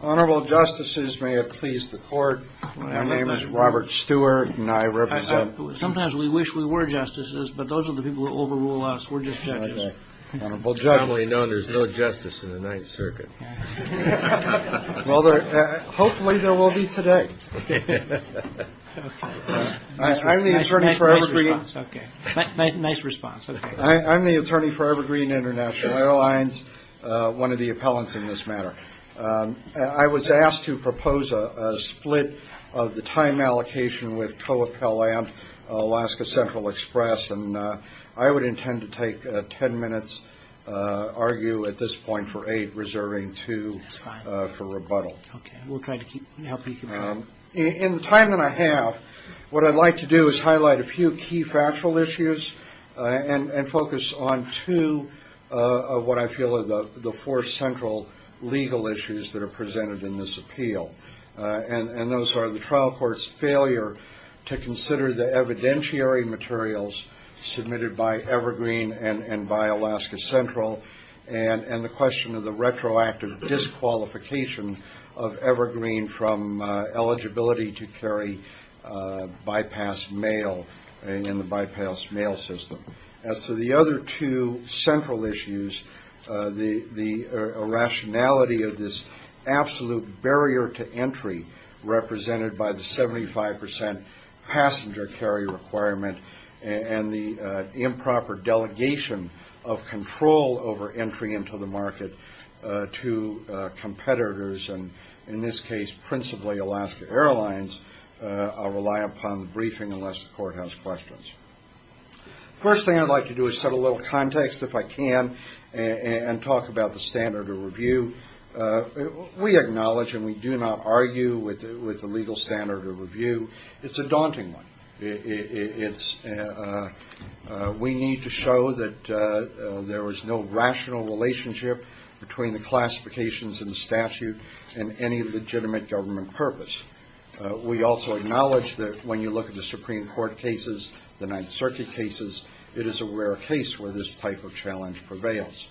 Honorable justices, may it please the court, my name is Robert Stewart and I represent Sometimes we wish we were justices, but those are the people who overrule us, we're just judges Honorable judge It's commonly known there's no justice in the Ninth Circuit Well, hopefully there will be today I'm the attorney for Evergreen Nice response I was asked to propose a split of the time allocation with Co-Appellant Alaska Central Express And I would intend to take ten minutes, argue at this point for eight, reserving two for rebuttal Okay, we'll try to help you keep track In the time that I have, what I'd like to do is highlight a few key factual issues And focus on two of what I feel are the four central legal issues that are presented in this appeal And those are the trial court's failure to consider the evidentiary materials submitted by Evergreen and by Alaska Central And the question of the retroactive disqualification of Evergreen from eligibility to carry bypass mail And the bypass mail system As to the other two central issues, the irrationality of this absolute barrier to entry Represented by the 75% passenger carry requirement And the improper delegation of control over entry into the market to competitors And in this case principally Alaska Airlines I'll rely upon the briefing unless the court has questions First thing I'd like to do is set a little context if I can And talk about the standard of review We acknowledge and we do not argue with the legal standard of review It's a daunting one We need to show that there is no rational relationship between the classifications in the statute And any legitimate government purpose We also acknowledge that when you look at the Supreme Court cases, the Ninth Circuit cases It is a rare case where this type of challenge prevails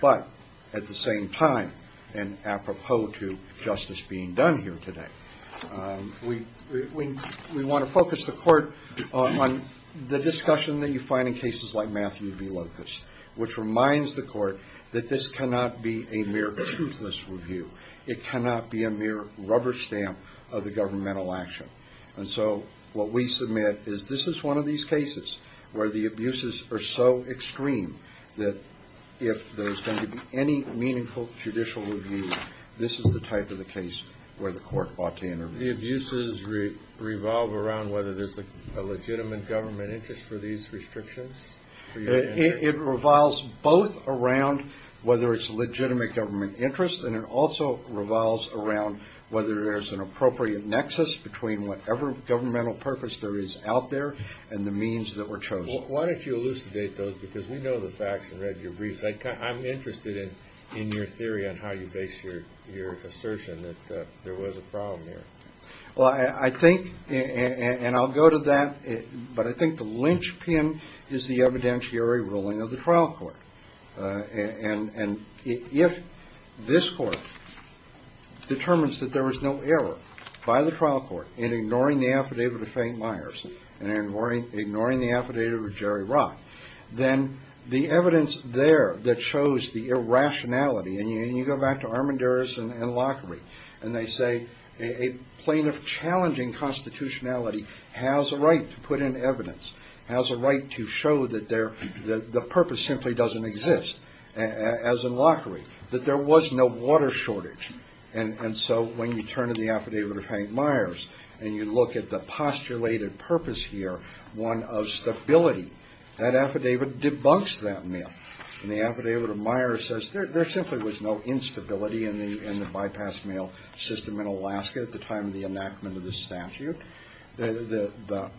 But at the same time and apropos to justice being done here today We want to focus the court on the discussion that you find in cases like Matthew B. Locust Which reminds the court that this cannot be a mere truthless review It cannot be a mere rubber stamp of the governmental action And so what we submit is this is one of these cases where the abuses are so extreme That if there's going to be any meaningful judicial review This is the type of the case where the court ought to intervene The abuses revolve around whether there's a legitimate government interest for these restrictions? It revolves both around whether it's a legitimate government interest And it also revolves around whether there's an appropriate nexus Between whatever governmental purpose there is out there and the means that were chosen Why don't you elucidate those because we know the facts and read your briefs I'm interested in your theory on how you base your assertion that there was a problem here Well I think and I'll go to that But I think the lynchpin is the evidentiary ruling of the trial court And if this court determines that there was no error by the trial court In ignoring the affidavit of Faint Myers and ignoring the affidavit of Jerry Rock Then the evidence there that shows the irrationality And you go back to Armanduris and Lockery And they say a plaintiff challenging constitutionality has a right to put in evidence Has a right to show that the purpose simply doesn't exist as in Lockery That there was no water shortage And so when you turn in the affidavit of Faint Myers And you look at the postulated purpose here One of stability That affidavit debunks that myth And the affidavit of Myers says There simply was no instability in the bypass mail system in Alaska At the time of the enactment of the statute The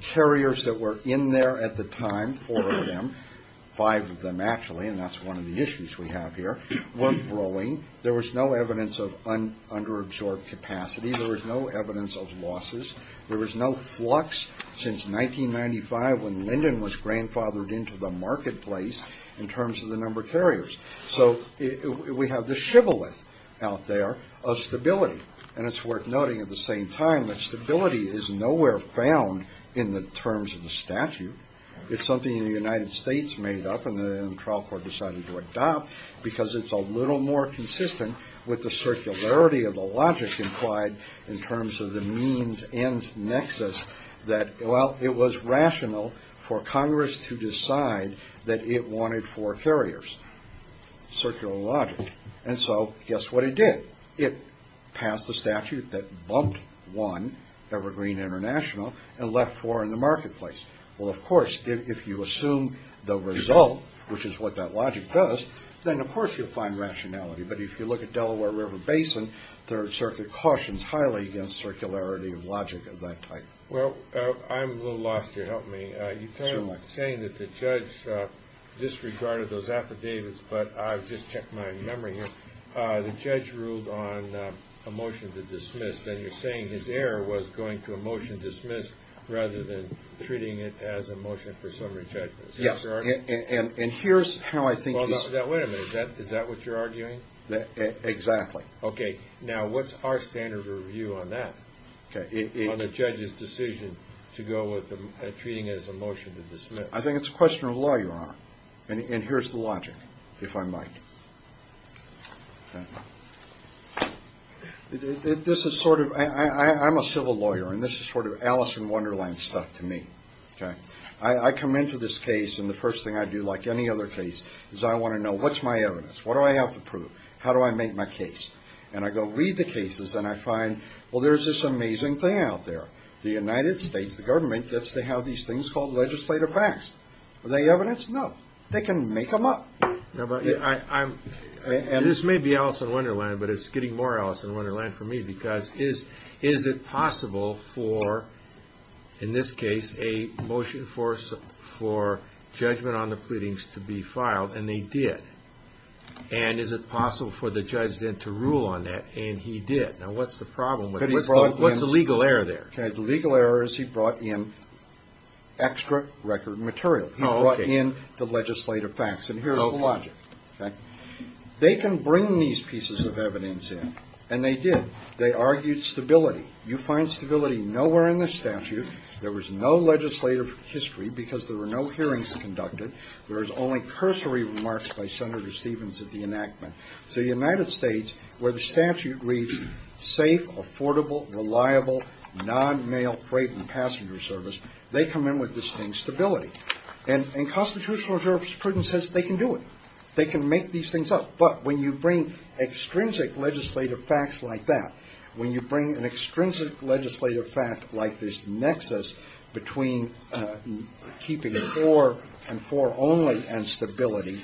carriers that were in there at the time Four of them Five of them actually And that's one of the issues we have here Weren't growing There was no evidence of under-absorbed capacity There was no evidence of losses There was no flux since 1995 When Linden was grandfathered into the marketplace In terms of the number of carriers So we have this shibboleth out there of stability And it's worth noting at the same time That stability is nowhere found in the terms of the statute It's something the United States made up And the trial court decided to adopt Because it's a little more consistent With the circularity of the logic implied In terms of the means-ends nexus That it was rational for Congress to decide That it wanted four carriers Circular logic And so guess what it did It passed the statute that bumped one Evergreen International And left four in the marketplace Well of course if you assume the result Which is what that logic does Then of course you'll find rationality But if you look at Delaware River Basin There are certain cautions Highly against circularity of logic of that type Well I'm a little lost here Help me You were saying that the judge Disregarded those affidavits But I've just checked my memory here The judge ruled on a motion to dismiss And you're saying his error was going to a motion dismissed Rather than treating it as a motion for summary judgment Yes And here's how I think Wait a minute Is that what you're arguing? Exactly Okay now what's our standard of review on that? On the judge's decision To go with treating it as a motion to dismiss I think it's a question of law your honor And here's the logic If I might This is sort of I'm a civil lawyer And this is sort of Alice in Wonderland stuff to me Okay I come into this case And the first thing I do like any other case Is I want to know what's my evidence What do I have to prove? How do I make my case? And I go read the cases And I find Well there's this amazing thing out there The United States, the government Gets to have these things called legislative facts Are they evidence? No They can make them up And this may be Alice in Wonderland But it's getting more Alice in Wonderland for me Because is it possible for In this case A motion for judgment on the pleadings to be filed And they did And is it possible for the judge then to rule on that And he did Now what's the problem What's the legal error there? The legal error is he brought in Extra record material He brought in the legislative facts And here's the logic They can bring these pieces of evidence in And they did They argued stability You find stability nowhere in the statute There was no legislative history Because there were no hearings conducted There was only cursory remarks By Senator Stevens at the enactment So the United States Where the statute reads Safe, affordable, reliable Non-male freight and passenger service They come in with distinct stability And constitutional jurisprudence says they can do it They can make these things up But when you bring Extrinsic legislative facts like that When you bring an extrinsic legislative fact Like this nexus Between keeping it for and for only And stability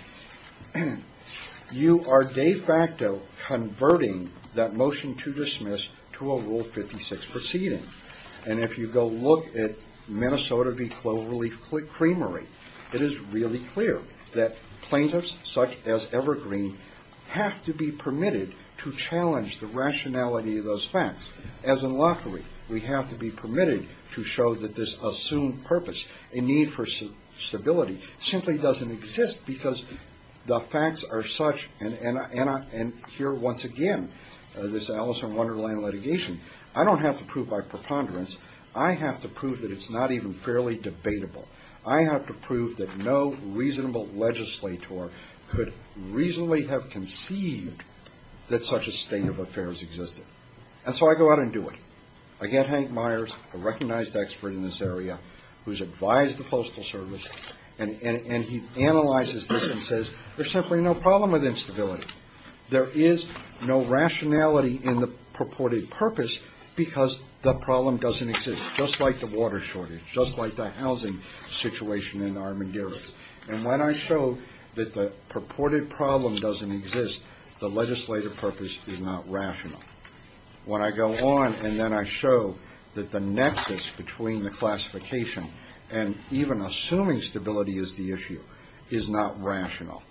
You are de facto converting That motion to dismiss To a Rule 56 proceeding And if you go look at Minnesota B. Cloverleaf Creamery It is really clear That plaintiffs such as Evergreen Have to be permitted To challenge the rationality of those facts As in Lockery We have to be permitted To show that this assumed purpose A need for stability Simply doesn't exist Because the facts are such And here once again This Alice in Wonderland litigation I don't have to prove by preponderance I have to prove That it's not even fairly debatable I have to prove That no reasonable legislator Could reasonably have conceived That such a state of affairs existed And so I go out and do it I get Hank Myers A recognized expert in this area Who's advised the Postal Service And he analyzes this and says There's simply no problem with instability There is no rationality In the purported purpose Because the problem doesn't exist Just like the water shortage Just like the housing situation In Armanduras And when I show That the purported problem doesn't exist The legislative purpose is not rational When I go on And then I show That the nexus between the classification And even assuming stability is the issue Is not rational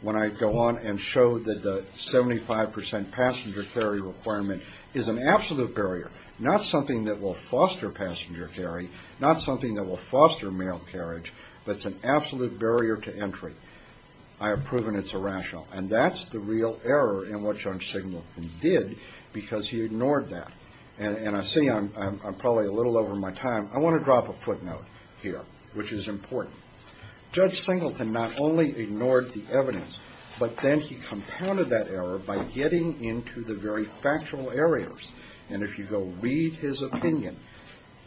When I go on and show That the 75% passenger carry requirement Is an absolute barrier Not something that will foster passenger carry Not something that will foster mail carriage But it's an absolute barrier to entry I have proven it's irrational And that's the real error In what Judge Singleton did Because he ignored that And I say I'm probably a little over my time I want to drop a footnote here Which is important Judge Singleton not only ignored the evidence But then he compounded that error By getting into the very factual areas And if you go read his opinion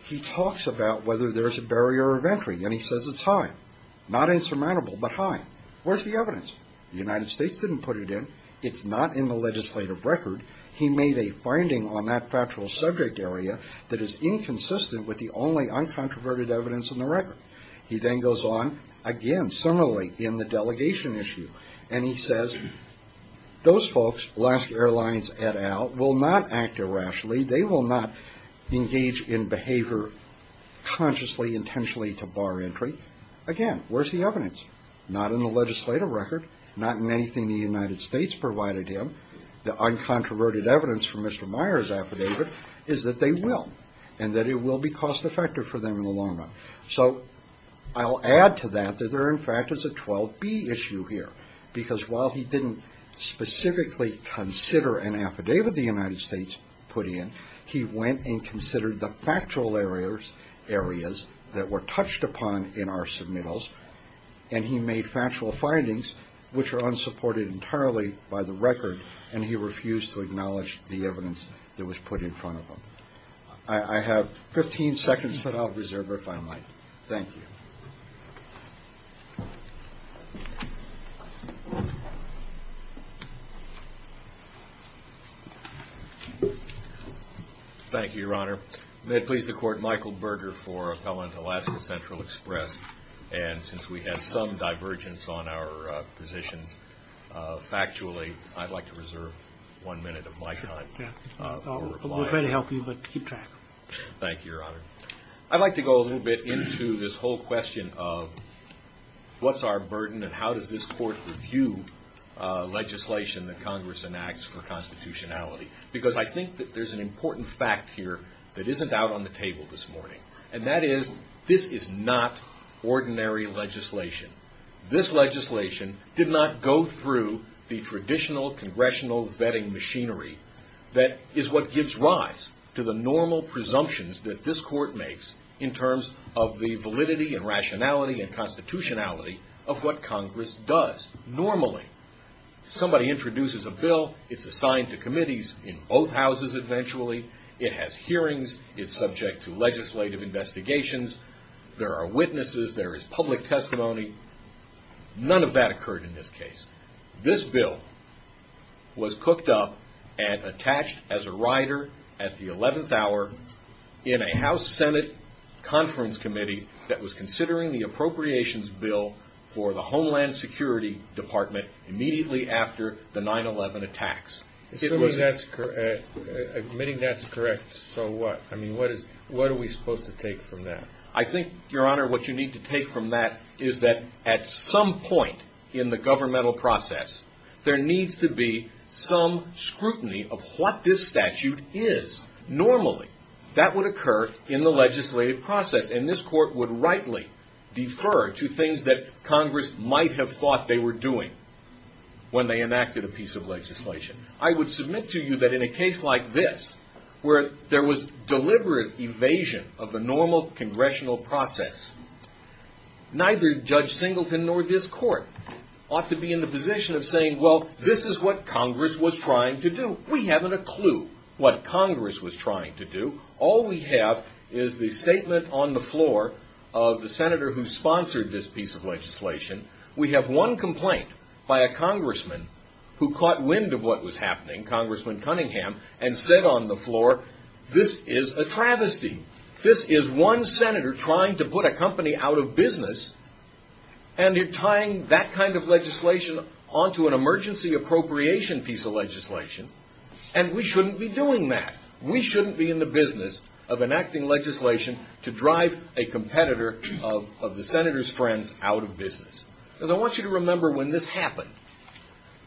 He talks about whether there's a barrier of entry And he says it's high Not insurmountable, but high Where's the evidence? The United States didn't put it in It's not in the legislative record He made a finding on that factual subject area That is inconsistent with the only Uncontroverted evidence in the record He then goes on Again, similarly, in the delegation issue And he says Those folks, last airlines et al Will not act irrationally They will not engage in behavior Consciously, intentionally to bar entry Again, where's the evidence? Not in the legislative record Not in anything the United States provided him The uncontroverted evidence From Mr. Meyer's affidavit Is that they will And that it will be cost effective For them in the long run So I'll add to that That there in fact is a 12B issue here Because while he didn't specifically Consider an affidavit the United States put in He went and considered the factual areas That were touched upon in our submittals And he made factual findings Which are unsupported entirely By the record And he refused to acknowledge The evidence that was put in front of him I have 15 seconds that I'll reserve If I might Thank you Thank you, Your Honor May it please the Court Michael Berger for Appellant, Alaska Central Express And since we had some divergence On our positions Factually, I'd like to reserve One minute of my time We're ready to help you, but keep track Thank you, Your Honor I'd like to go a little bit Into this whole question of What's our burden And how does this Court Review legislation That Congress enacts For constitutionality Because I think that there's An important fact here That isn't out on the table this morning And that is This is not ordinary legislation This legislation did not go through The traditional Congressional vetting machinery That is what gives rise To the normal presumptions That this Court makes In terms of the validity And rationality And constitutionality Of what Congress does normally Somebody introduces a bill It's assigned to committees In both houses eventually It has hearings It's subject to Legislative investigations There are witnesses There is public testimony None of that occurred in this case This bill Was cooked up And attached as a rider At the 11th hour In a House-Senate Conference committee That was considering The appropriations bill For the Homeland Security Department Immediately after the 9-11 attacks Assuming that's correct Admitting that's correct So what? I mean, what is What are we supposed to take from that? I think, Your Honor What you need to take from that Is that at some point In the governmental process There needs to be Some scrutiny Of what this statute is Normally That would occur In the legislative process And this Court would rightly Defer to things that Congress might have thought They were doing When they enacted A piece of legislation I would submit to you That in a case like this Where there was Deliberate evasion Of the normal Congressional process Neither Judge Singleton Nor this Court Ought to be in the position Of saying, well This is what Congress Was trying to do We haven't a clue What Congress was trying to do All we have Is the statement On the floor Of the Senator Who sponsored This piece of legislation We have one complaint By a Congressman Who caught wind Of what was happening Congressman Cunningham And said on the floor This is a travesty This is one Senator Trying to put a company Out of business And you're tying That kind of legislation Onto an emergency appropriation Piece of legislation And we shouldn't be doing that We shouldn't be in the business Of enacting legislation To drive a competitor Of the Senator's friends Out of business And I want you to remember When this happened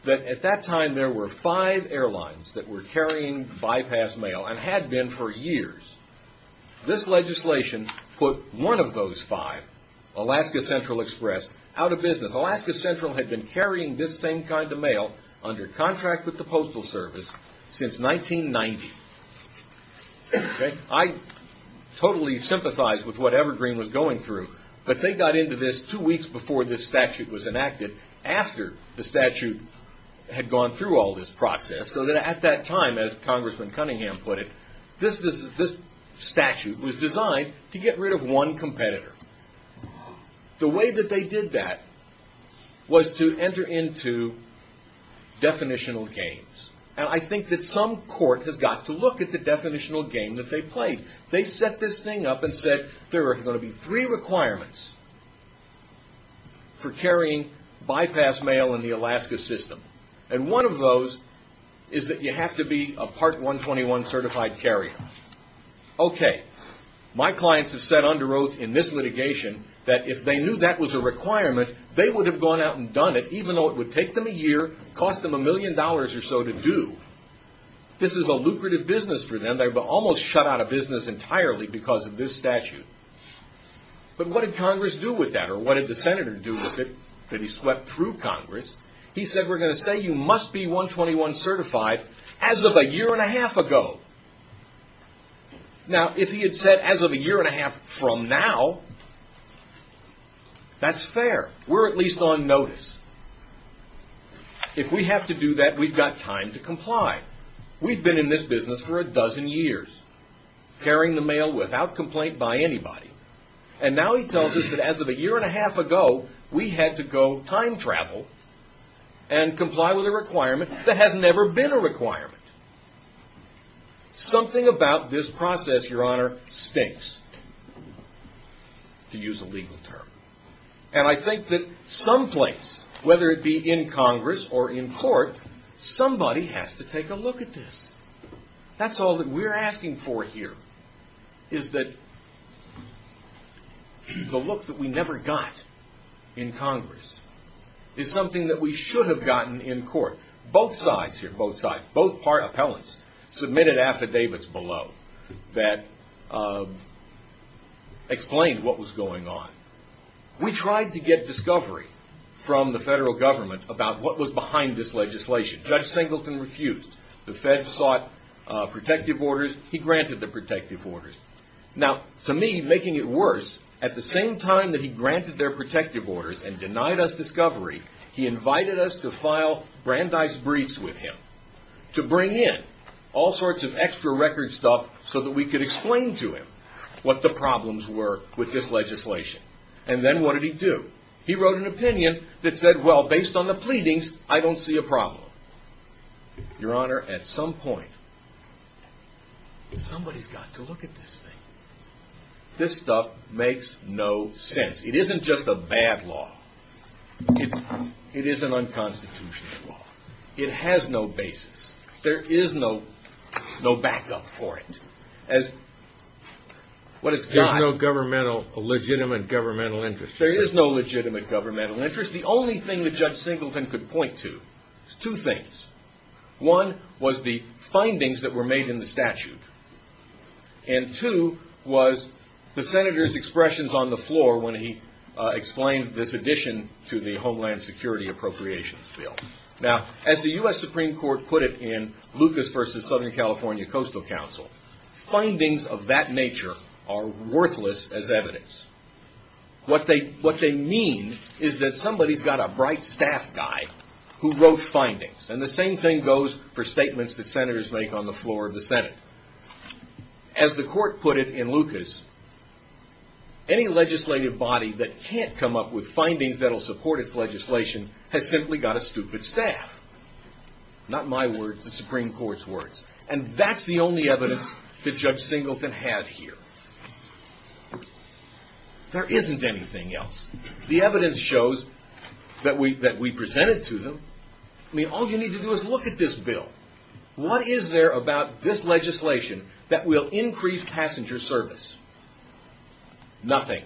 That at that time There were five airlines That were carrying bypass mail And had been for years This legislation Put one of those five Alaska Central Express Out of business Alaska Central had been Carrying this same kind of mail Under contract With the Postal Service Since 1990 I totally sympathize With what Evergreen Was going through But they got into this Two weeks before This statute was enacted After the statute Had gone through All this process So that at that time As Congressman Cunningham put it This statute was designed To get rid of one competitor The way that they did that Was to enter into Definitional gains And I think that some court Has got to look at The definitional gain That they played They set this thing up And said There are going to be Three requirements For carrying bypass mail In the Alaska system And one of those Is that you have to be A Part 121 certified carrier Okay My clients have said Under oath in this litigation That if they knew That was a requirement They would have gone out And done it Even though it would Take them a year Cost them a million dollars Or so to do This is a lucrative Business for them They almost shut out Of business entirely Because of this statute But what did Congress Do with that Or what did the Senator do With it That he swept through Congress He said We're going to say You must be 121 certified As of a year and a half ago Now if he had said As of a year and a half from now That's fair We're at least on notice If we have to do that We've got time to comply We've been in this business For a dozen years Carrying the mail Without complaint by anybody And now he tells us That as of a year and a half ago We had to go time travel And comply with a requirement That has never been a requirement Something about this process Your Honor Stinks To use a legal term And I think that Some place Whether it be in Congress Or in court Somebody has to take a look at this That's all that we're asking for here Is that The look that we never got In Congress Is something that We should have gotten in court Both sides here Both sides Both appellants Submitted affidavits below That Explained what was going on We tried to get discovery From the federal government About what was behind This legislation Judge Singleton refused The feds sought Protective orders He granted the protective orders Now to me Making it worse At the same time That he granted Their protective orders And denied us discovery He invited us to file Brandeis briefs with him To bring in All sorts of extra record stuff So that we could explain to him What the problems were With this legislation And then what did he do He wrote an opinion That said well Based on the pleadings I don't see a problem Your Honor At some point Somebody's got to look at this thing This stuff makes no sense It isn't just a bad law It's It is an unconstitutional law It has no basis There is no No backup for it As What it's got There's no governmental Legitimate governmental interest There is no legitimate Governmental interest The only thing that Judge Singleton could point to Is two things One Was the Findings that were made In the statute And two Was The senator's expressions On the floor When he Explained this addition To the Homeland Security Appropriations bill Now As the U.S. Supreme Court Put it in Lucas vs. Southern California Coastal Council Findings of that nature Are worthless as evidence What they What they mean Is that somebody's got A bright staff guy Who wrote findings And the same thing goes For statements that senators Make on the floor of the Senate As the court put it In Lucas Any legislative body That can't come up with Findings that'll support Its legislation Has simply got A stupid staff Not my words The Supreme Court's words And that's the only evidence That Judge Singleton had here There isn't anything else The evidence shows That we That we presented to them I mean all you need to do Is look at this bill What is there about This legislation That will increase Passenger service Nothing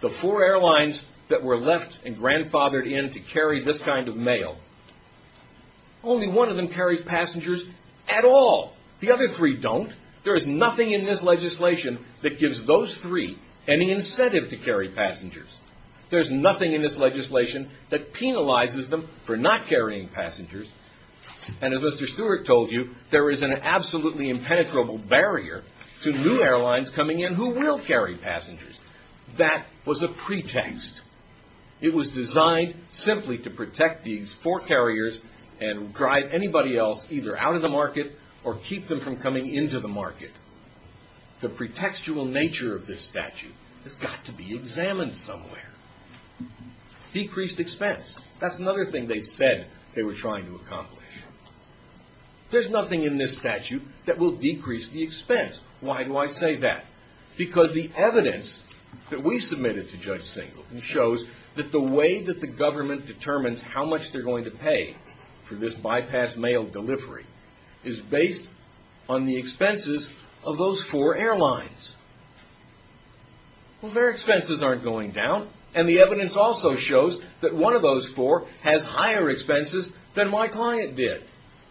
The four airlines That were left And grandfathered in To carry this kind of mail Only one of them Carries passengers At all The other three don't There is nothing In this legislation That gives those three Any incentive To carry passengers There's nothing In this legislation That penalizes them For not carrying passengers And as Mr. Stewart Told you There is an absolutely Impenetrable barrier To new airlines Coming in Who will carry passengers That was a pretext It was designed Simply to protect These four carriers And drive anybody else Either out of the market Or keep them from coming Into the market The pretextual nature Of this statute Has got to be Examined somewhere Decreased expense That's another thing They said they were Trying to accomplish There is nothing In this statute That will decrease The expense Why do I say that? Because the evidence That we submitted To Judge Singleton Shows that the way That the government Determines how much They're going to pay For this bypass Mail delivery Is based On the expenses Of those four airlines Their expenses Aren't going down And the evidence Also shows That one of those four Has higher expenses Than my client did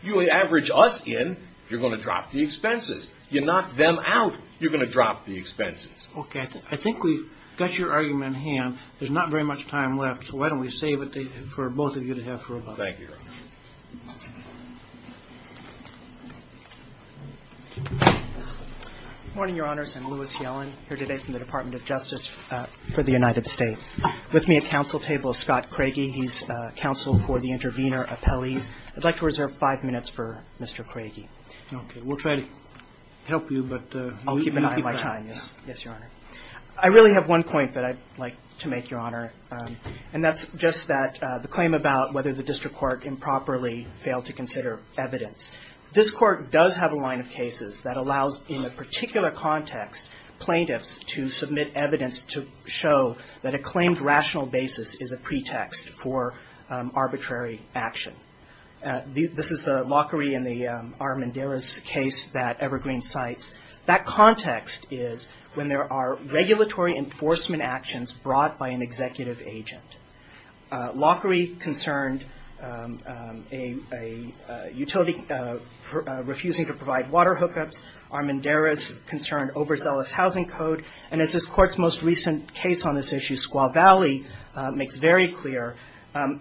You average us in You're going to drop The expenses You knock them out You're going to drop The expenses Okay, I think we've Got your argument in hand There's not very much Time left So why don't we save it For both of you To have for a while Thank you, Your Honor Good morning, Your Honors I'm Louis Yellen Here today from the Department of Justice For the United States With me at council table Is Scott Craigie He's counsel For the intervener Appellees I'd like to reserve Five minutes For Mr. Craigie Okay, we'll try To help you But I'll keep an eye On my time Yes, Your Honor I really have one point That I'd like to make Your Honor And that's just That the claim About whether the District Court Improperly failed To consider evidence This court does Have a line of cases That allows In a particular context Plaintiffs To submit evidence To show That a claimed Rational basis Is a pretext For arbitrary Action This is the Lockery And the Armendariz Case that Evergreen cites That context Is when there Are regulatory Enforcement actions Brought by an Executive agent Lockery Concerned Utility Refusing to Provide water Hookups Armendariz Concerned Oberzealous Housing code And as this Court's most Recent case On this issue Squaw Valley Makes very clear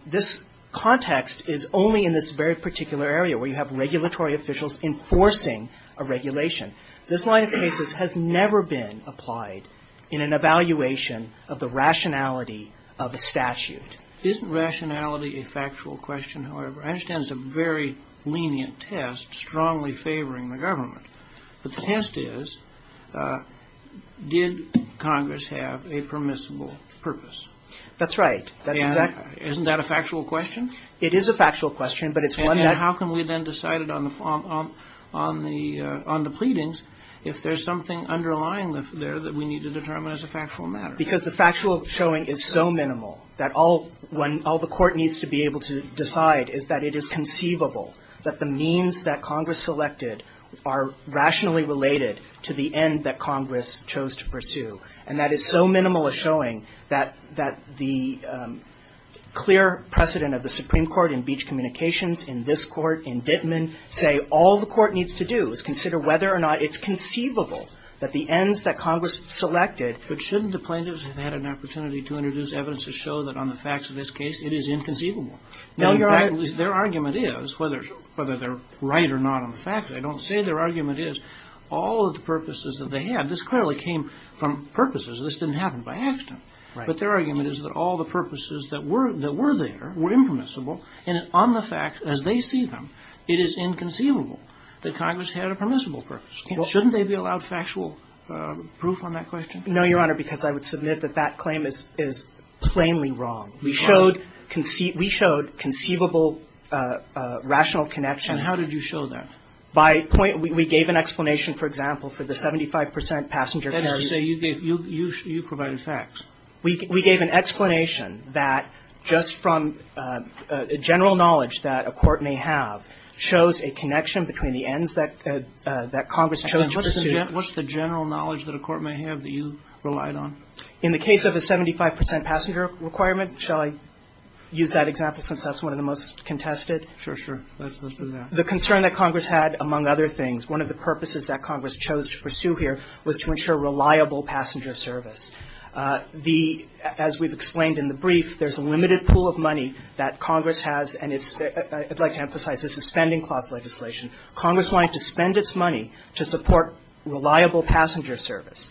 This context Is only in this Very particular area Where you have Regulatory officials Enforcing A regulation This line of cases Has never been Applied In an evaluation Of the rationality Of a statute Isn't rationality A factual question However? I understand It's a very lenient Strongly favoring The government The test is Did Congress Have a permissible Purpose? That's right Isn't that a Factual question? It is a Factual question And how can We then decide On the Pleadings If there's Something underlying There that we need To determine As a factual matter? Because the Factual showing Is so minimal That all When all the Court needs to be Able to decide Is that it is Conceivable That the means That Congress Selected Are rationally Related to the End that Congress Chose to pursue And that is so Minimal a showing That the Clear precedent Of the Supreme Court In Beach Communications In this Court In Dittman Say all the Court needs to do Is consider Whether or not It's conceivable That the Ends that Congress Selected But shouldn't The plaintiffs Have had an Opportunity to Introduce evidence To show that On the facts Of this case It is inconceivable Now your At least their Argument is Whether they're Right or not On the facts I don't say Their argument is All of the Purposes that They had This clearly Came from Purposes This didn't Happen by accident But their Argument is That all the Purposes that Were there Were impermissible And on the Facts as they See them It is inconceivable That Congress Had a permissible Purpose Shouldn't they Be allowed factual Proof on that Question No your Honor because I Would submit that That claim is Plainly wrong We showed We showed Conceivable Rational connections And how did you Show that By point We gave an Explanation for Example for the 75% Passenger You provided Facts We gave an Explanation That just From General knowledge That a court May have Shows a Connection between The ends that Congress Chose to pursue What's the general Knowledge that a Court may have That you relied on In the case of The 75% Passenger requirement Shall I use that Example since that's One of the most Contested Sure sure Let's do that The concern that Congress had Among other things One of the purposes That Congress Chose to pursue Here was to Ensure reliable Passenger service The as we've Explained in the Brief there's a Limited pool of Money that Is available To support Reliable Passenger service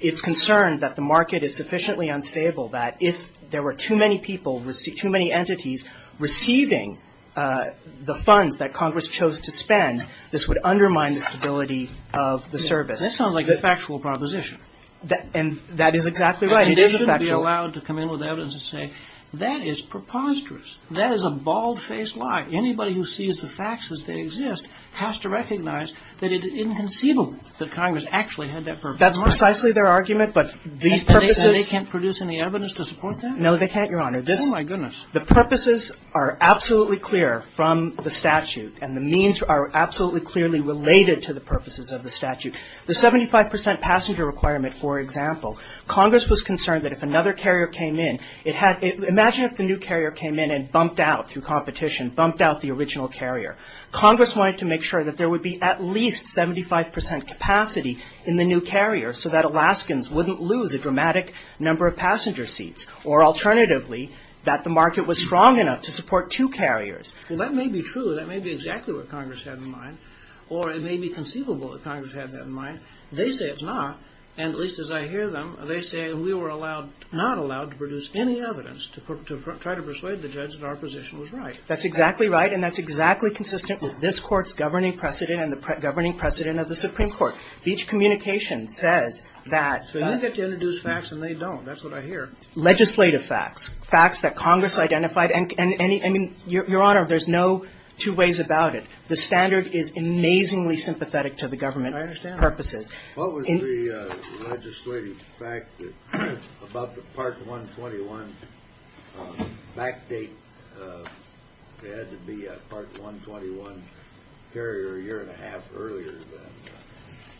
It's concerned That the market Is sufficiently Unstable that If there were Too many people Too many entities Receiving The funds That Congress Chose to spend This would Undermine the Stability of The service That sounds like A factual proposition And that is Exactly right And it shouldn't Be allowed to Come in with evidence And say that is Preposterous That is a Unconceivable That Congress Actually had that Purpose That's more precisely Their argument but And they can't Produce any evidence To support that No they can't Your Honor Oh my goodness The purposes are Absolutely clear From the statute And the means are Absolutely clearly Related to the Purposes of the Statute The 75 percent Passenger requirement For example Congress was concerned That if another Carrier came in It had Imagine if the new Carrier came in And bumped out Through competition Bumped out the Original carrier Congress wanted to Make sure that there Would be at least 75 percent capacity In the new carrier So that Alaskans Wouldn't lose a Dramatic number of Passenger seats Or alternatively That the market was Strong enough to Support two carriers That may be true That may be exactly What Congress had in mind Or it may be conceivable That Congress had that In mind They say it's not And at least as I Hear them They say we were Allowed Not allowed To produce Any evidence To try to persuade The judge that our Position was right That's exactly right And that's exactly Consistent with this Court's governing Precedent and the Governing precedent Of the Supreme Court Each communication Says that So you get to Introduce facts and They don't That's what I hear Legislative facts Facts that Congress Identified and Your Honor There's no Two ways about it The standard is Amazingly sympathetic To the government Purposes I understand What was the Legislative fact That about the Part 121 Back date There had to be A part 121 Carrier a year And a half Earlier than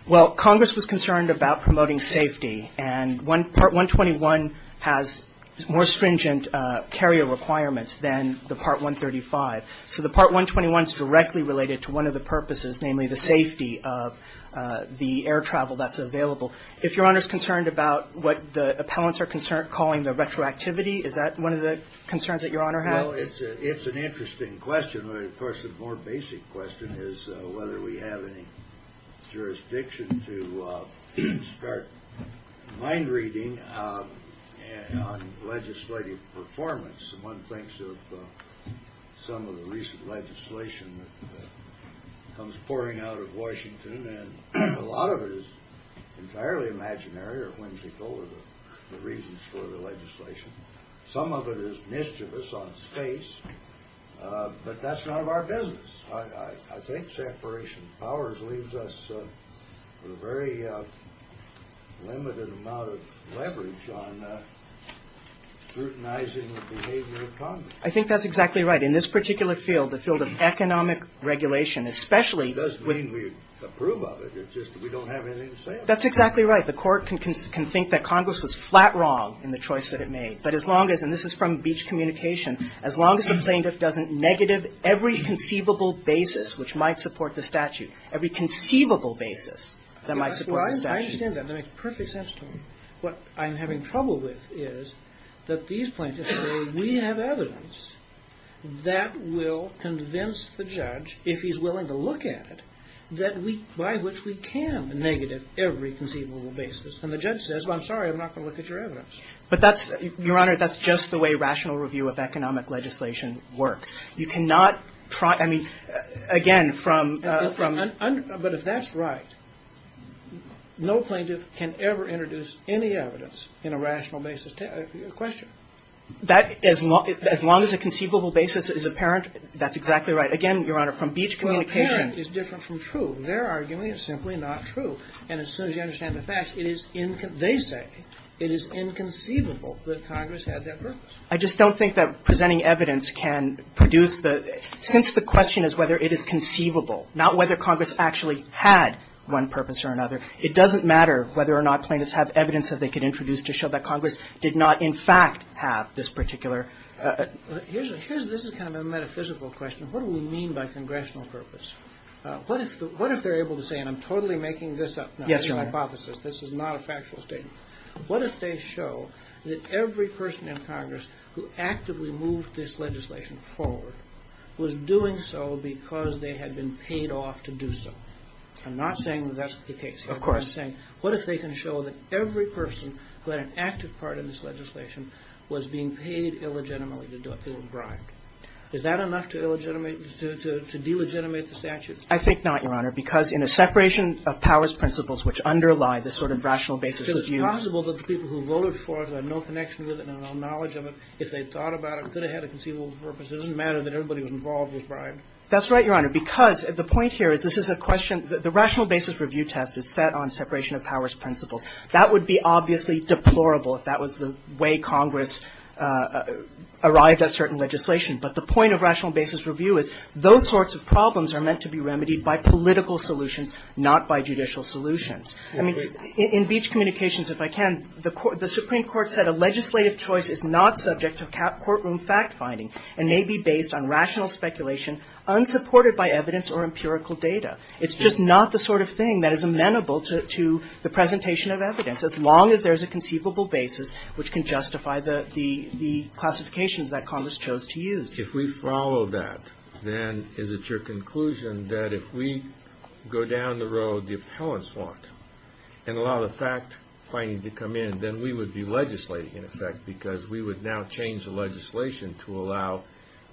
Well Congress Was concerned about Promoting safety And one Part 121 Has more Carrier requirements Than the part 135 So the part 121 is directly Related to one of The purposes Namely the safety Of the air Transport Of the Air The Part 121 Is entirely Imaginary or Whimsical The reasons for The legislation Some of it is Mischievous on Space But that's none Of our business I think separation Of powers Leaves us With a very Limited amount Of leverage On Scrutinizing The behavior Of Congress I think that's Exactly right In this particular Field The field of Economic regulation Especially It doesn't mean We approve of it It's just we don't Have anything to say on it That's exactly right The court can think That Congress was Flat wrong In the choice That it made But as long as And this is from Beach Communication As long as the Plaintiff doesn't Negative every Conceivable basis Which might support The statute Every conceivable Basis That might support The statute I understand that That makes perfect Sense to me What I'm having Trouble with Is that These plaintiffs Say we have Evidence That will Convince the Judge If he's willing To look at it That we By which we can Negative every Conceivable basis And the judge Says I'm sorry I'm not going to Look at your evidence But that's Your honor That's just the way Rational review Of economic Legislation Works You cannot I mean again From But if that's Right No plaintiff Can ever Introduce any Evidence In a rational Basis Question That as Long as a Conceivable basis Is apparent That's exactly Right again Your honor From Beach Communication Well apparent Is different from True Their argument Is simply not True And as soon as You understand The facts It is They say It is Inconceivable That Congress Had that purpose I just don't think That presenting Evidence can Produce the Since the question Is whether it is Conceivable Not whether Congress actually Had one purpose Or another It doesn't matter Whether or not Plaintiffs have Evidence that they Could introduce To show that Congress did not In fact have This particular Here's This is kind of A metaphysical Question What do we mean By congressional Purpose What if What if they're able To say And I'm totally Making this up Yes your honor Hypothesis This is not A factual statement What if they show That every person In Congress Who actively Moved this legislation Forward Was doing so Because they had Been paid off To do so I'm not saying That that's the case Of course I'm just saying What if they can Show that every Person who had An active part In this legislation Was being paid Off To do so Is that enough To illegitimate To delegitimate The statute I think not Your honor Because in a separation Of powers principles Which underlie This sort of Rational basis It's possible That the people Who voted for it Had no connection With it And no knowledge Of it If they thought About it Could have had A conceivable purpose It doesn't matter That everybody Who was involved Was bribed That's right Your honor Because The point here Is this is a question The rational basis Review test is set On separation Of powers principles That would be Obviously deplorable If that was the way Congress Arrived at certain Legislation But the point Of rational basis Review is Those sorts of Problems are meant To be remedied By political solutions Not by judicial solutions I mean In beach communications If I can The court The supreme court Said a legislative Choice is not subject To courtroom fact Finding and may Be based on rational Speculation Unsupported by evidence Or empirical data It's just not The sort of thing That is amenable To the presentation Of evidence As long as there's A conceivable basis Which can justify The classifications That Congress Chose to use If we follow that Then is it your Conclusion that If we go down The road The appellants Want and allow The fact finding To come in Then we would Be legislating In effect Because we would Now change The legislation To allow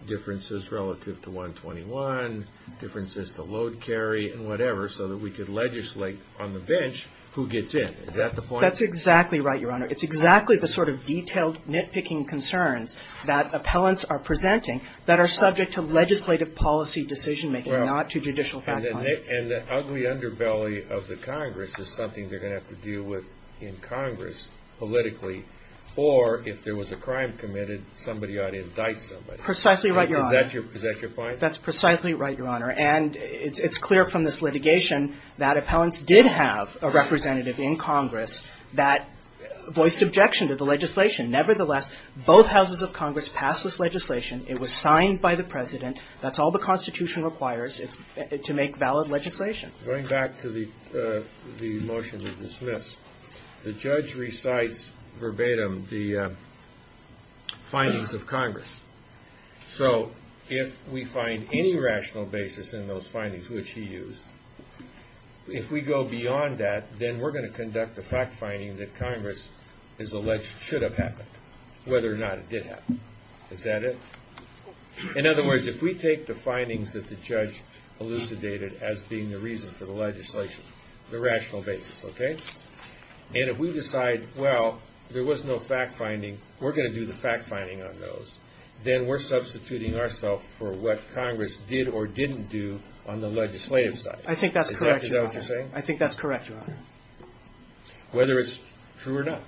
Differences relative To 121 Differences to Load carry And whatever So that we could Legislate on the bench Who gets in Is that the point? That's exactly right Your honor It's exactly the Sort of detailed Nitpicking concerns That appellants Are presenting That are subject To legislative Policy decision Making not to Judicial fact Finding And the ugly Underbelly of the Congress Is something They're going to Have to deal with In Congress Politically Or if there was A crime committed Somebody ought To indict somebody Precisely right Your honor Is that your point? That's precisely Right your honor And it's clear From this litigation That appellants Did have A representative In Congress That voiced Objection to the Legislation Nevertheless Both houses of Congress Passed this Legislation It was signed By the president That's all The constitution Requires To make Valid Legislation Going back To the Motion That was Dismissed The judge Recites Verbatim The Findings of Congress So if We find Any rational Basis In those Findings Which he Used If we Go beyond That Whether it's True or not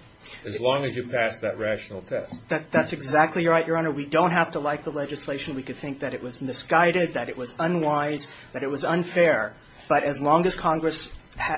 As long as you Pass that rational Test That's exactly Right your honor We don't have to Like the legislation We could think That it was Misguided That it was Unwise That it was Unfair But as long As Congress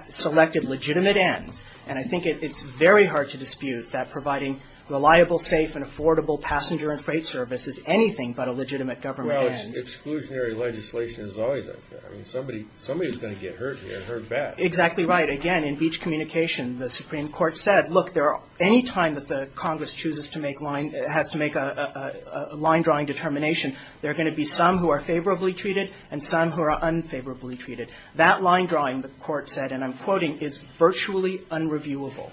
Selected legitimate Ends And I think It's very hard To dispute That providing Reliable safe And affordable Passenger and freight Service Is anything But a legitimate Government Well it's Exclusionary Legislation Is always Like that I mean somebody Is going to get Hurt here And hurt Bad Exactly right Again in Beach Communication The Supreme Court Said Look Anytime That the Congress Has to make A line Drawing Determination There are There could Be some Who are Favorably Treated And some Who are Unfavorably Treated That line Drawing The court Said and I'm Quoting is Virtually Unreviewable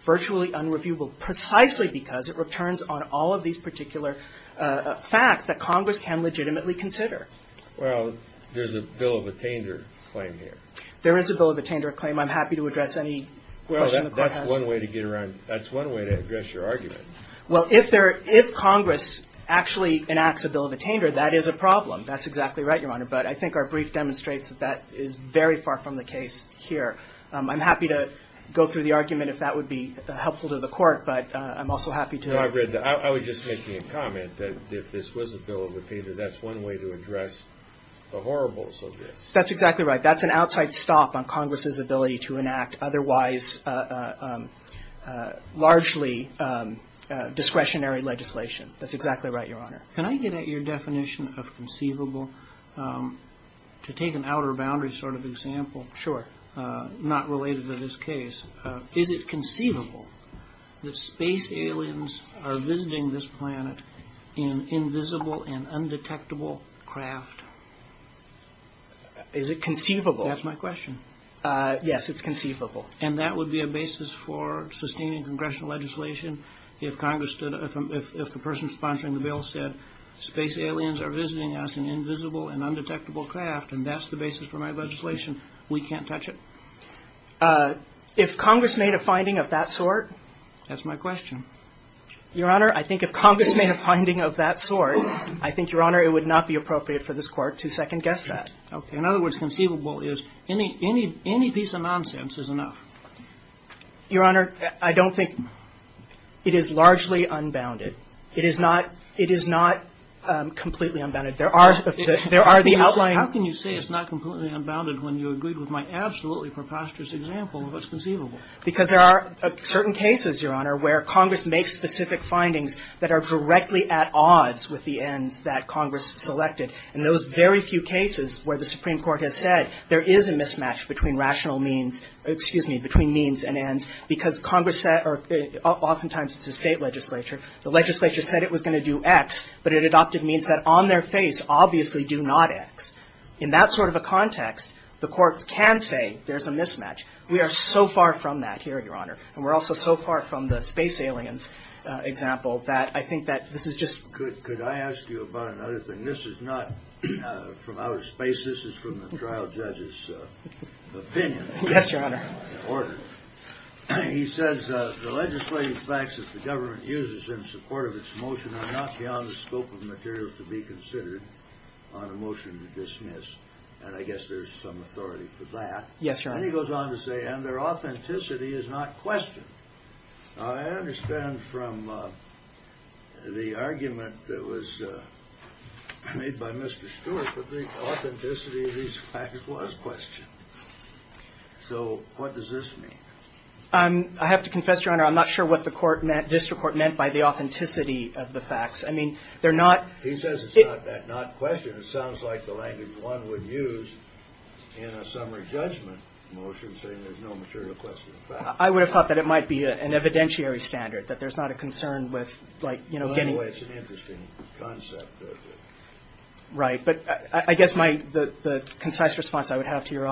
Virtually Unreviewable Precisely Because it Returns on all Of these Particular Facts that Congress Can legitimately Consider Well there's A bill Of attainder Claim here There is a bill Of attainder Claim I'm happy To address Any Well that's One way to Get around That's one way To address Your argument Well if Congress Actually enacts A bill of Attainder That is a Problem That's exactly Right Your Honor But I think Our brief Demonstrates That that Is very Far from The case Here I'm happy To go through The argument If that would Be helpful to The court But I'm also Happy to I was just Making a comment That if this Was a bill Of attainder That's one way To address The horribles Of this That's exactly Right that's An outside Stop on Congress's Ability to Enact otherwise Largely Discretionary Legislation That's exactly Right Your Honor Can I get at Your definition Of conceivable To take an Outer boundary Sort of example Sure Not related to This case Is it conceivable That space Aliens are Visiting this Planet in Invisible and Undetectable Craft Is it conceivable That's my Question Yes it's conceivable And that would Be a basis for Sustaining Congressional Legislation If Congress If the person Sponsoring the bill Said space Aliens are Visiting us Invisible and Undetectable craft And that's the Basis for my Legislation We can't touch It If Congress Made a finding Of that sort That's my Question Your Honor I think if Congress made a Finding of that Sort I think Your Honor it Would not be Appropriate for This court To second guess That Okay in Other words Conceivable is Any piece of Nonsense is Enough Your Honor I don't think It is largely Unbounded It is not It is not Completely unbounded There are There are the Outlines How can you say It's not completely Unbounded when you Agreed with my Absolutely preposterous Example of what's Conceivable Because there are Certain cases Your Honor where Congress makes Specific findings That are Directly at odds With the ends That Congress Selected And those Very few cases Where the Supreme Court Has said There is a Mismatch between Rational means Excuse me Between means and Ends Because Congress Or oftentimes It's a state Legislature The legislature Said it was going To do X But it adopted Means that on Their face Obviously do not X In that sort Of context The courts can Say there's a Mismatch We are so far From that here Your Honor And we're also So far from the Space aliens Example that I think that This is just Could I ask you About another thing This is not From outer space This is from the Trial judge's Opinion Yes your Honor In order He says The legislative Facts that the Government uses In support of Its motion Are not beyond The scope of Materials to be Considered On a motion To dismiss And I guess there's Some authority For that Yes your Honor And he goes on To say And their Authenticity Is not questioned I understand From the Argument that Was made by Mr. Stewart But the Authenticity Of these Facts was Questioned So what does This mean I have to Look at The facts I mean They're not He says it's Not questioned It sounds like The language one Would use In a summary Judgment motion Saying there's no Material question I would have Thought that it Might be an Evidentiary standard That there's not A concern with Like you know Getting It's an Interesting Concept Right but I guess my The concise Response I would Have to your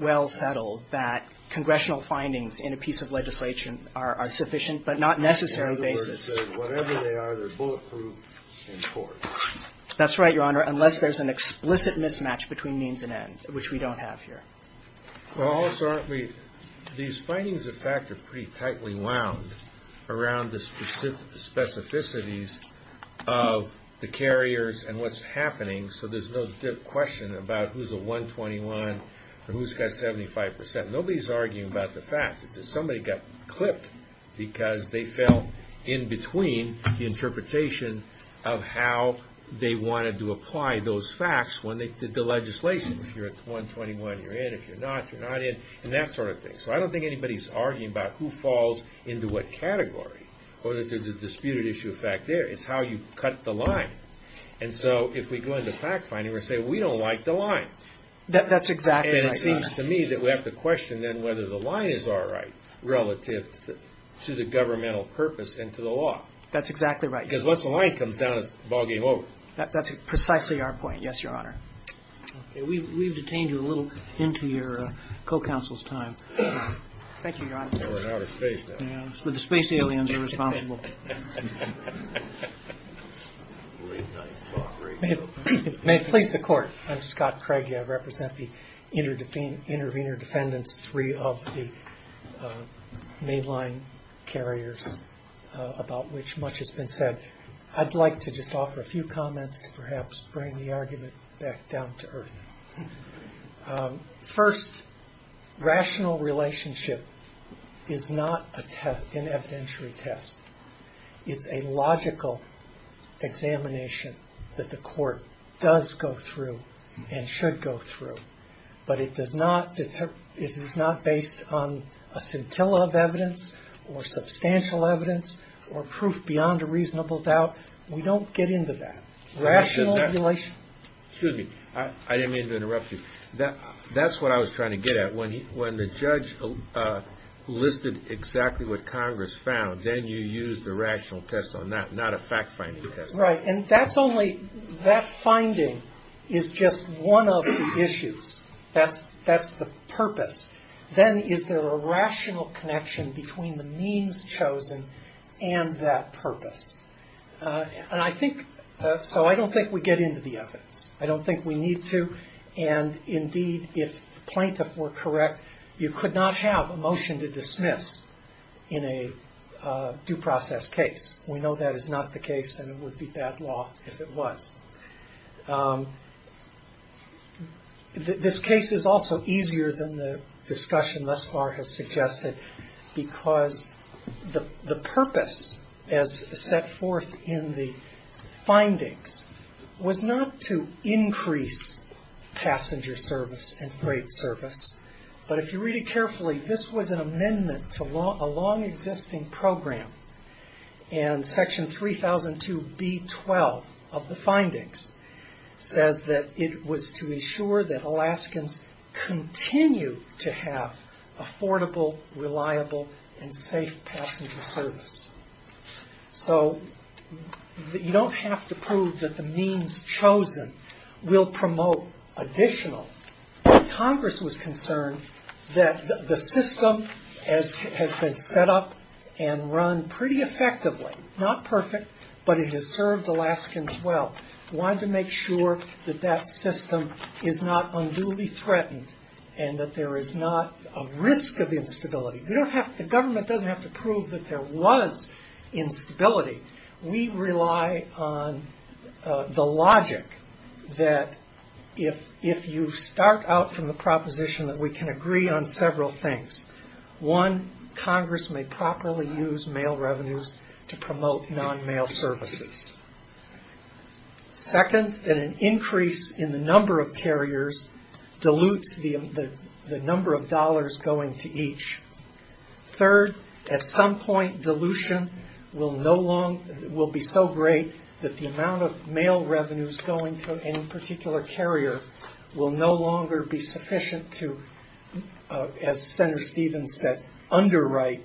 Well settled That congressional Findings in a piece Of legislation Are sufficient But not necessary Basis Whatever they Are they're Bulletproof In court That's right Your Honor Unless there's An explicit Mismatch Between means And end Which we don't Have here Well also Aren't we These findings In fact are Pretty tightly Wound around The specificities Of the carriers And what's Not to say Is not The best And So I Don't think We should Be Applying That Categorically Or There's a Disputed issue Of fact There It's how You cut The line And so If we go Into fact Finding We say We don't Like the Line That's Exactly And it seems To me That we have To question Whether the Line is All right Relative To the Governmental Purpose And to The law That's Exactly Right Because once The line Comes down It's All game Over That's Precisely Our point Yes Your Honor We've Detained you A little Into your Co-counsel's Time Thank you Your Honor But the Space aliens Are responsible May it Please the Court I'm Scott Craig I represent The intervener Defendants Three of The mainline Carriers About which Much has Been said I'd like To just Offer a few Comments To perhaps Bring the Argument Back down To earth First Rational Relationship Is not An evidentiary Test It's a Logical Examination That the Court Does go Through And should Go through But it Does not Based on A scintilla Of evidence Or substantial Evidence Or proof beyond A reasonable Doubt We don't get Into that Rational Relationship Excuse me I didn't mean to Interrupt you That's what I Was trying to Get at When the Judge Listed Exactly what Congress Found Then you Use the Rational Test On that Not a Fact-finding Test Right and That's only That finding Is just One of the Issues That's the Purpose Then is there A rational Connection Between the Means chosen And that Purpose And I think So I don't Think we get Into the Evidence I don't Think we Need to And indeed If the Plaintiff Were correct You could Not have A motion To dismiss In a Due process Case we know That is not the Case and it Would be bad Law if it Was This Case is Also easier Than the Discussion thus Far has Suggested Because The purpose As set Forth in The Findings Was not To increase Passenger Service And freight Service But if you Read it Carefully this Was an Amendment to A long Existing program And section 3002 B12 Of the Findings Says that It was to Ensure that Alaskans Continue To have Affordable Reliable And safe Passenger Service So you Don't have To prove that The means Chosen Will promote Additional Benefits Alaskans So Congress Was concerned That the System Has been Set up And run Pretty Effectively Not perfect But it Has served Alaskans Well Wanted to Make sure That that System Is not Unduly Threatened And that There is not A risk Of instability You don't have The government Doesn't have To prove that There was Instability We rely On The logic That If you Start out From the Proposition That we can Agree on Several things One Congress May properly Use mail Revenues To promote Non-mail Services Second That an Increase In the Average Third At some Point Dilution Will be So great That the Amount of Mail revenues Going to Any particular Carrier Will no Longer be Sufficient To Underwrite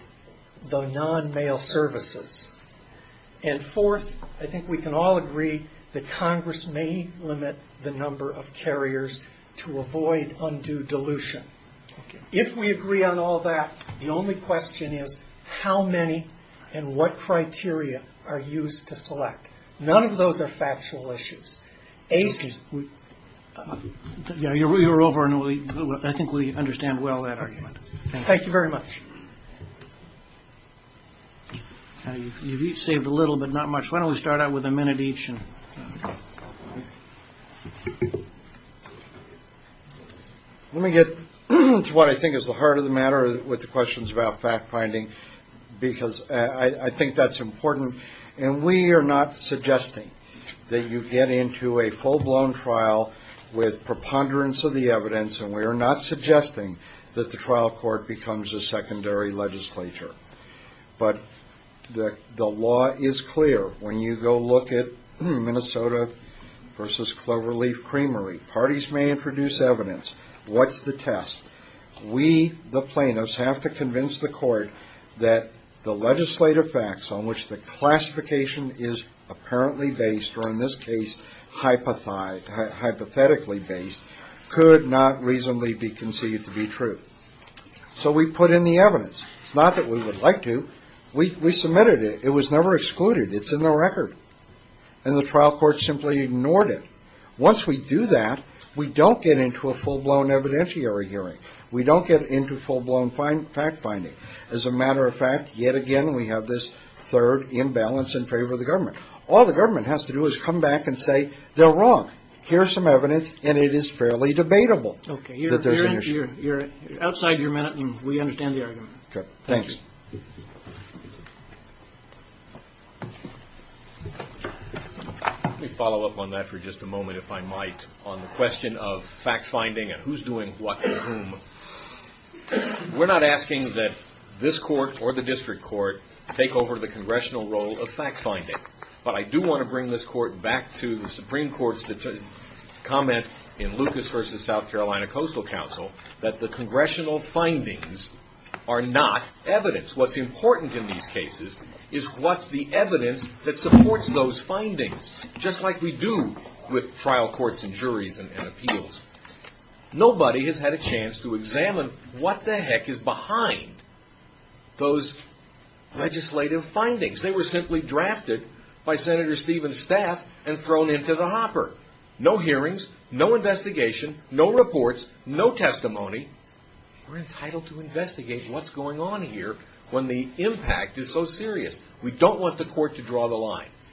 The non-mail Services And fourth I think we Can all Agree That Congress May limit The number Of carriers To avoid Undue Dilution If we Agree on All that The only Question is How many And what Criteria Are used To select None of Those are Factual Issues I think we Understand well That argument Thank you Very much You have Each saved A little But not much Why don't We start Out with A minute Let me Get to What I Think is The heart Of the Matter With the Questions About fact Finding Because I Think that's Important And we Are not Suggesting That you Get into A full Blown Trial With Preponderance Of the Evidence And we Are not Suggesting That the Trial Court Becomes A secondary Legislature But the Law is Clear When you Go look At Minnesota Versus Cloverleaf Creamery Parties May introduce Evidence What's The test We The Plaintiffs Have to Convince The Court That the Evidence Is True So we Put in The Evidence It's Not that We would Like to We Submitted It It Was Never Excluded It's In The Record And The Trial Court Simply Ignored It Once We Do That We Don't Get Into Full Blown Fact Finding As a Matter Of Fact Yet Again We Have This Third All The Government Has To Do Is Come Back And Say They're Wrong Here Are Some Evidence And It Is Fairly Debatable Okay You're Outside Your Minute And We Understand The Argument Thanks Let Me Follow Up Back To The Supreme Court Comment In Lucas Versus South Carolina Coastal Council That The Congressional Findings Are Not Evidence What's Important In These Cases Is What's The Evidence That Supports Those Findings Just Like We Do With Trial Courts And Juries And Appeals Nobody Has Had A Chance To Examine What The Heck Is Behind Those Legislative Findings They Are Not Evidence What's Important In These Cases The Evidence That Supports Those Legislative Findings Nobody Has Had A Chance To Examine What The Heck Is Behind Those Nobody Has Had A Chance To Examine What The Heck Is Behind Those Legislative Findings They Are Not Evidence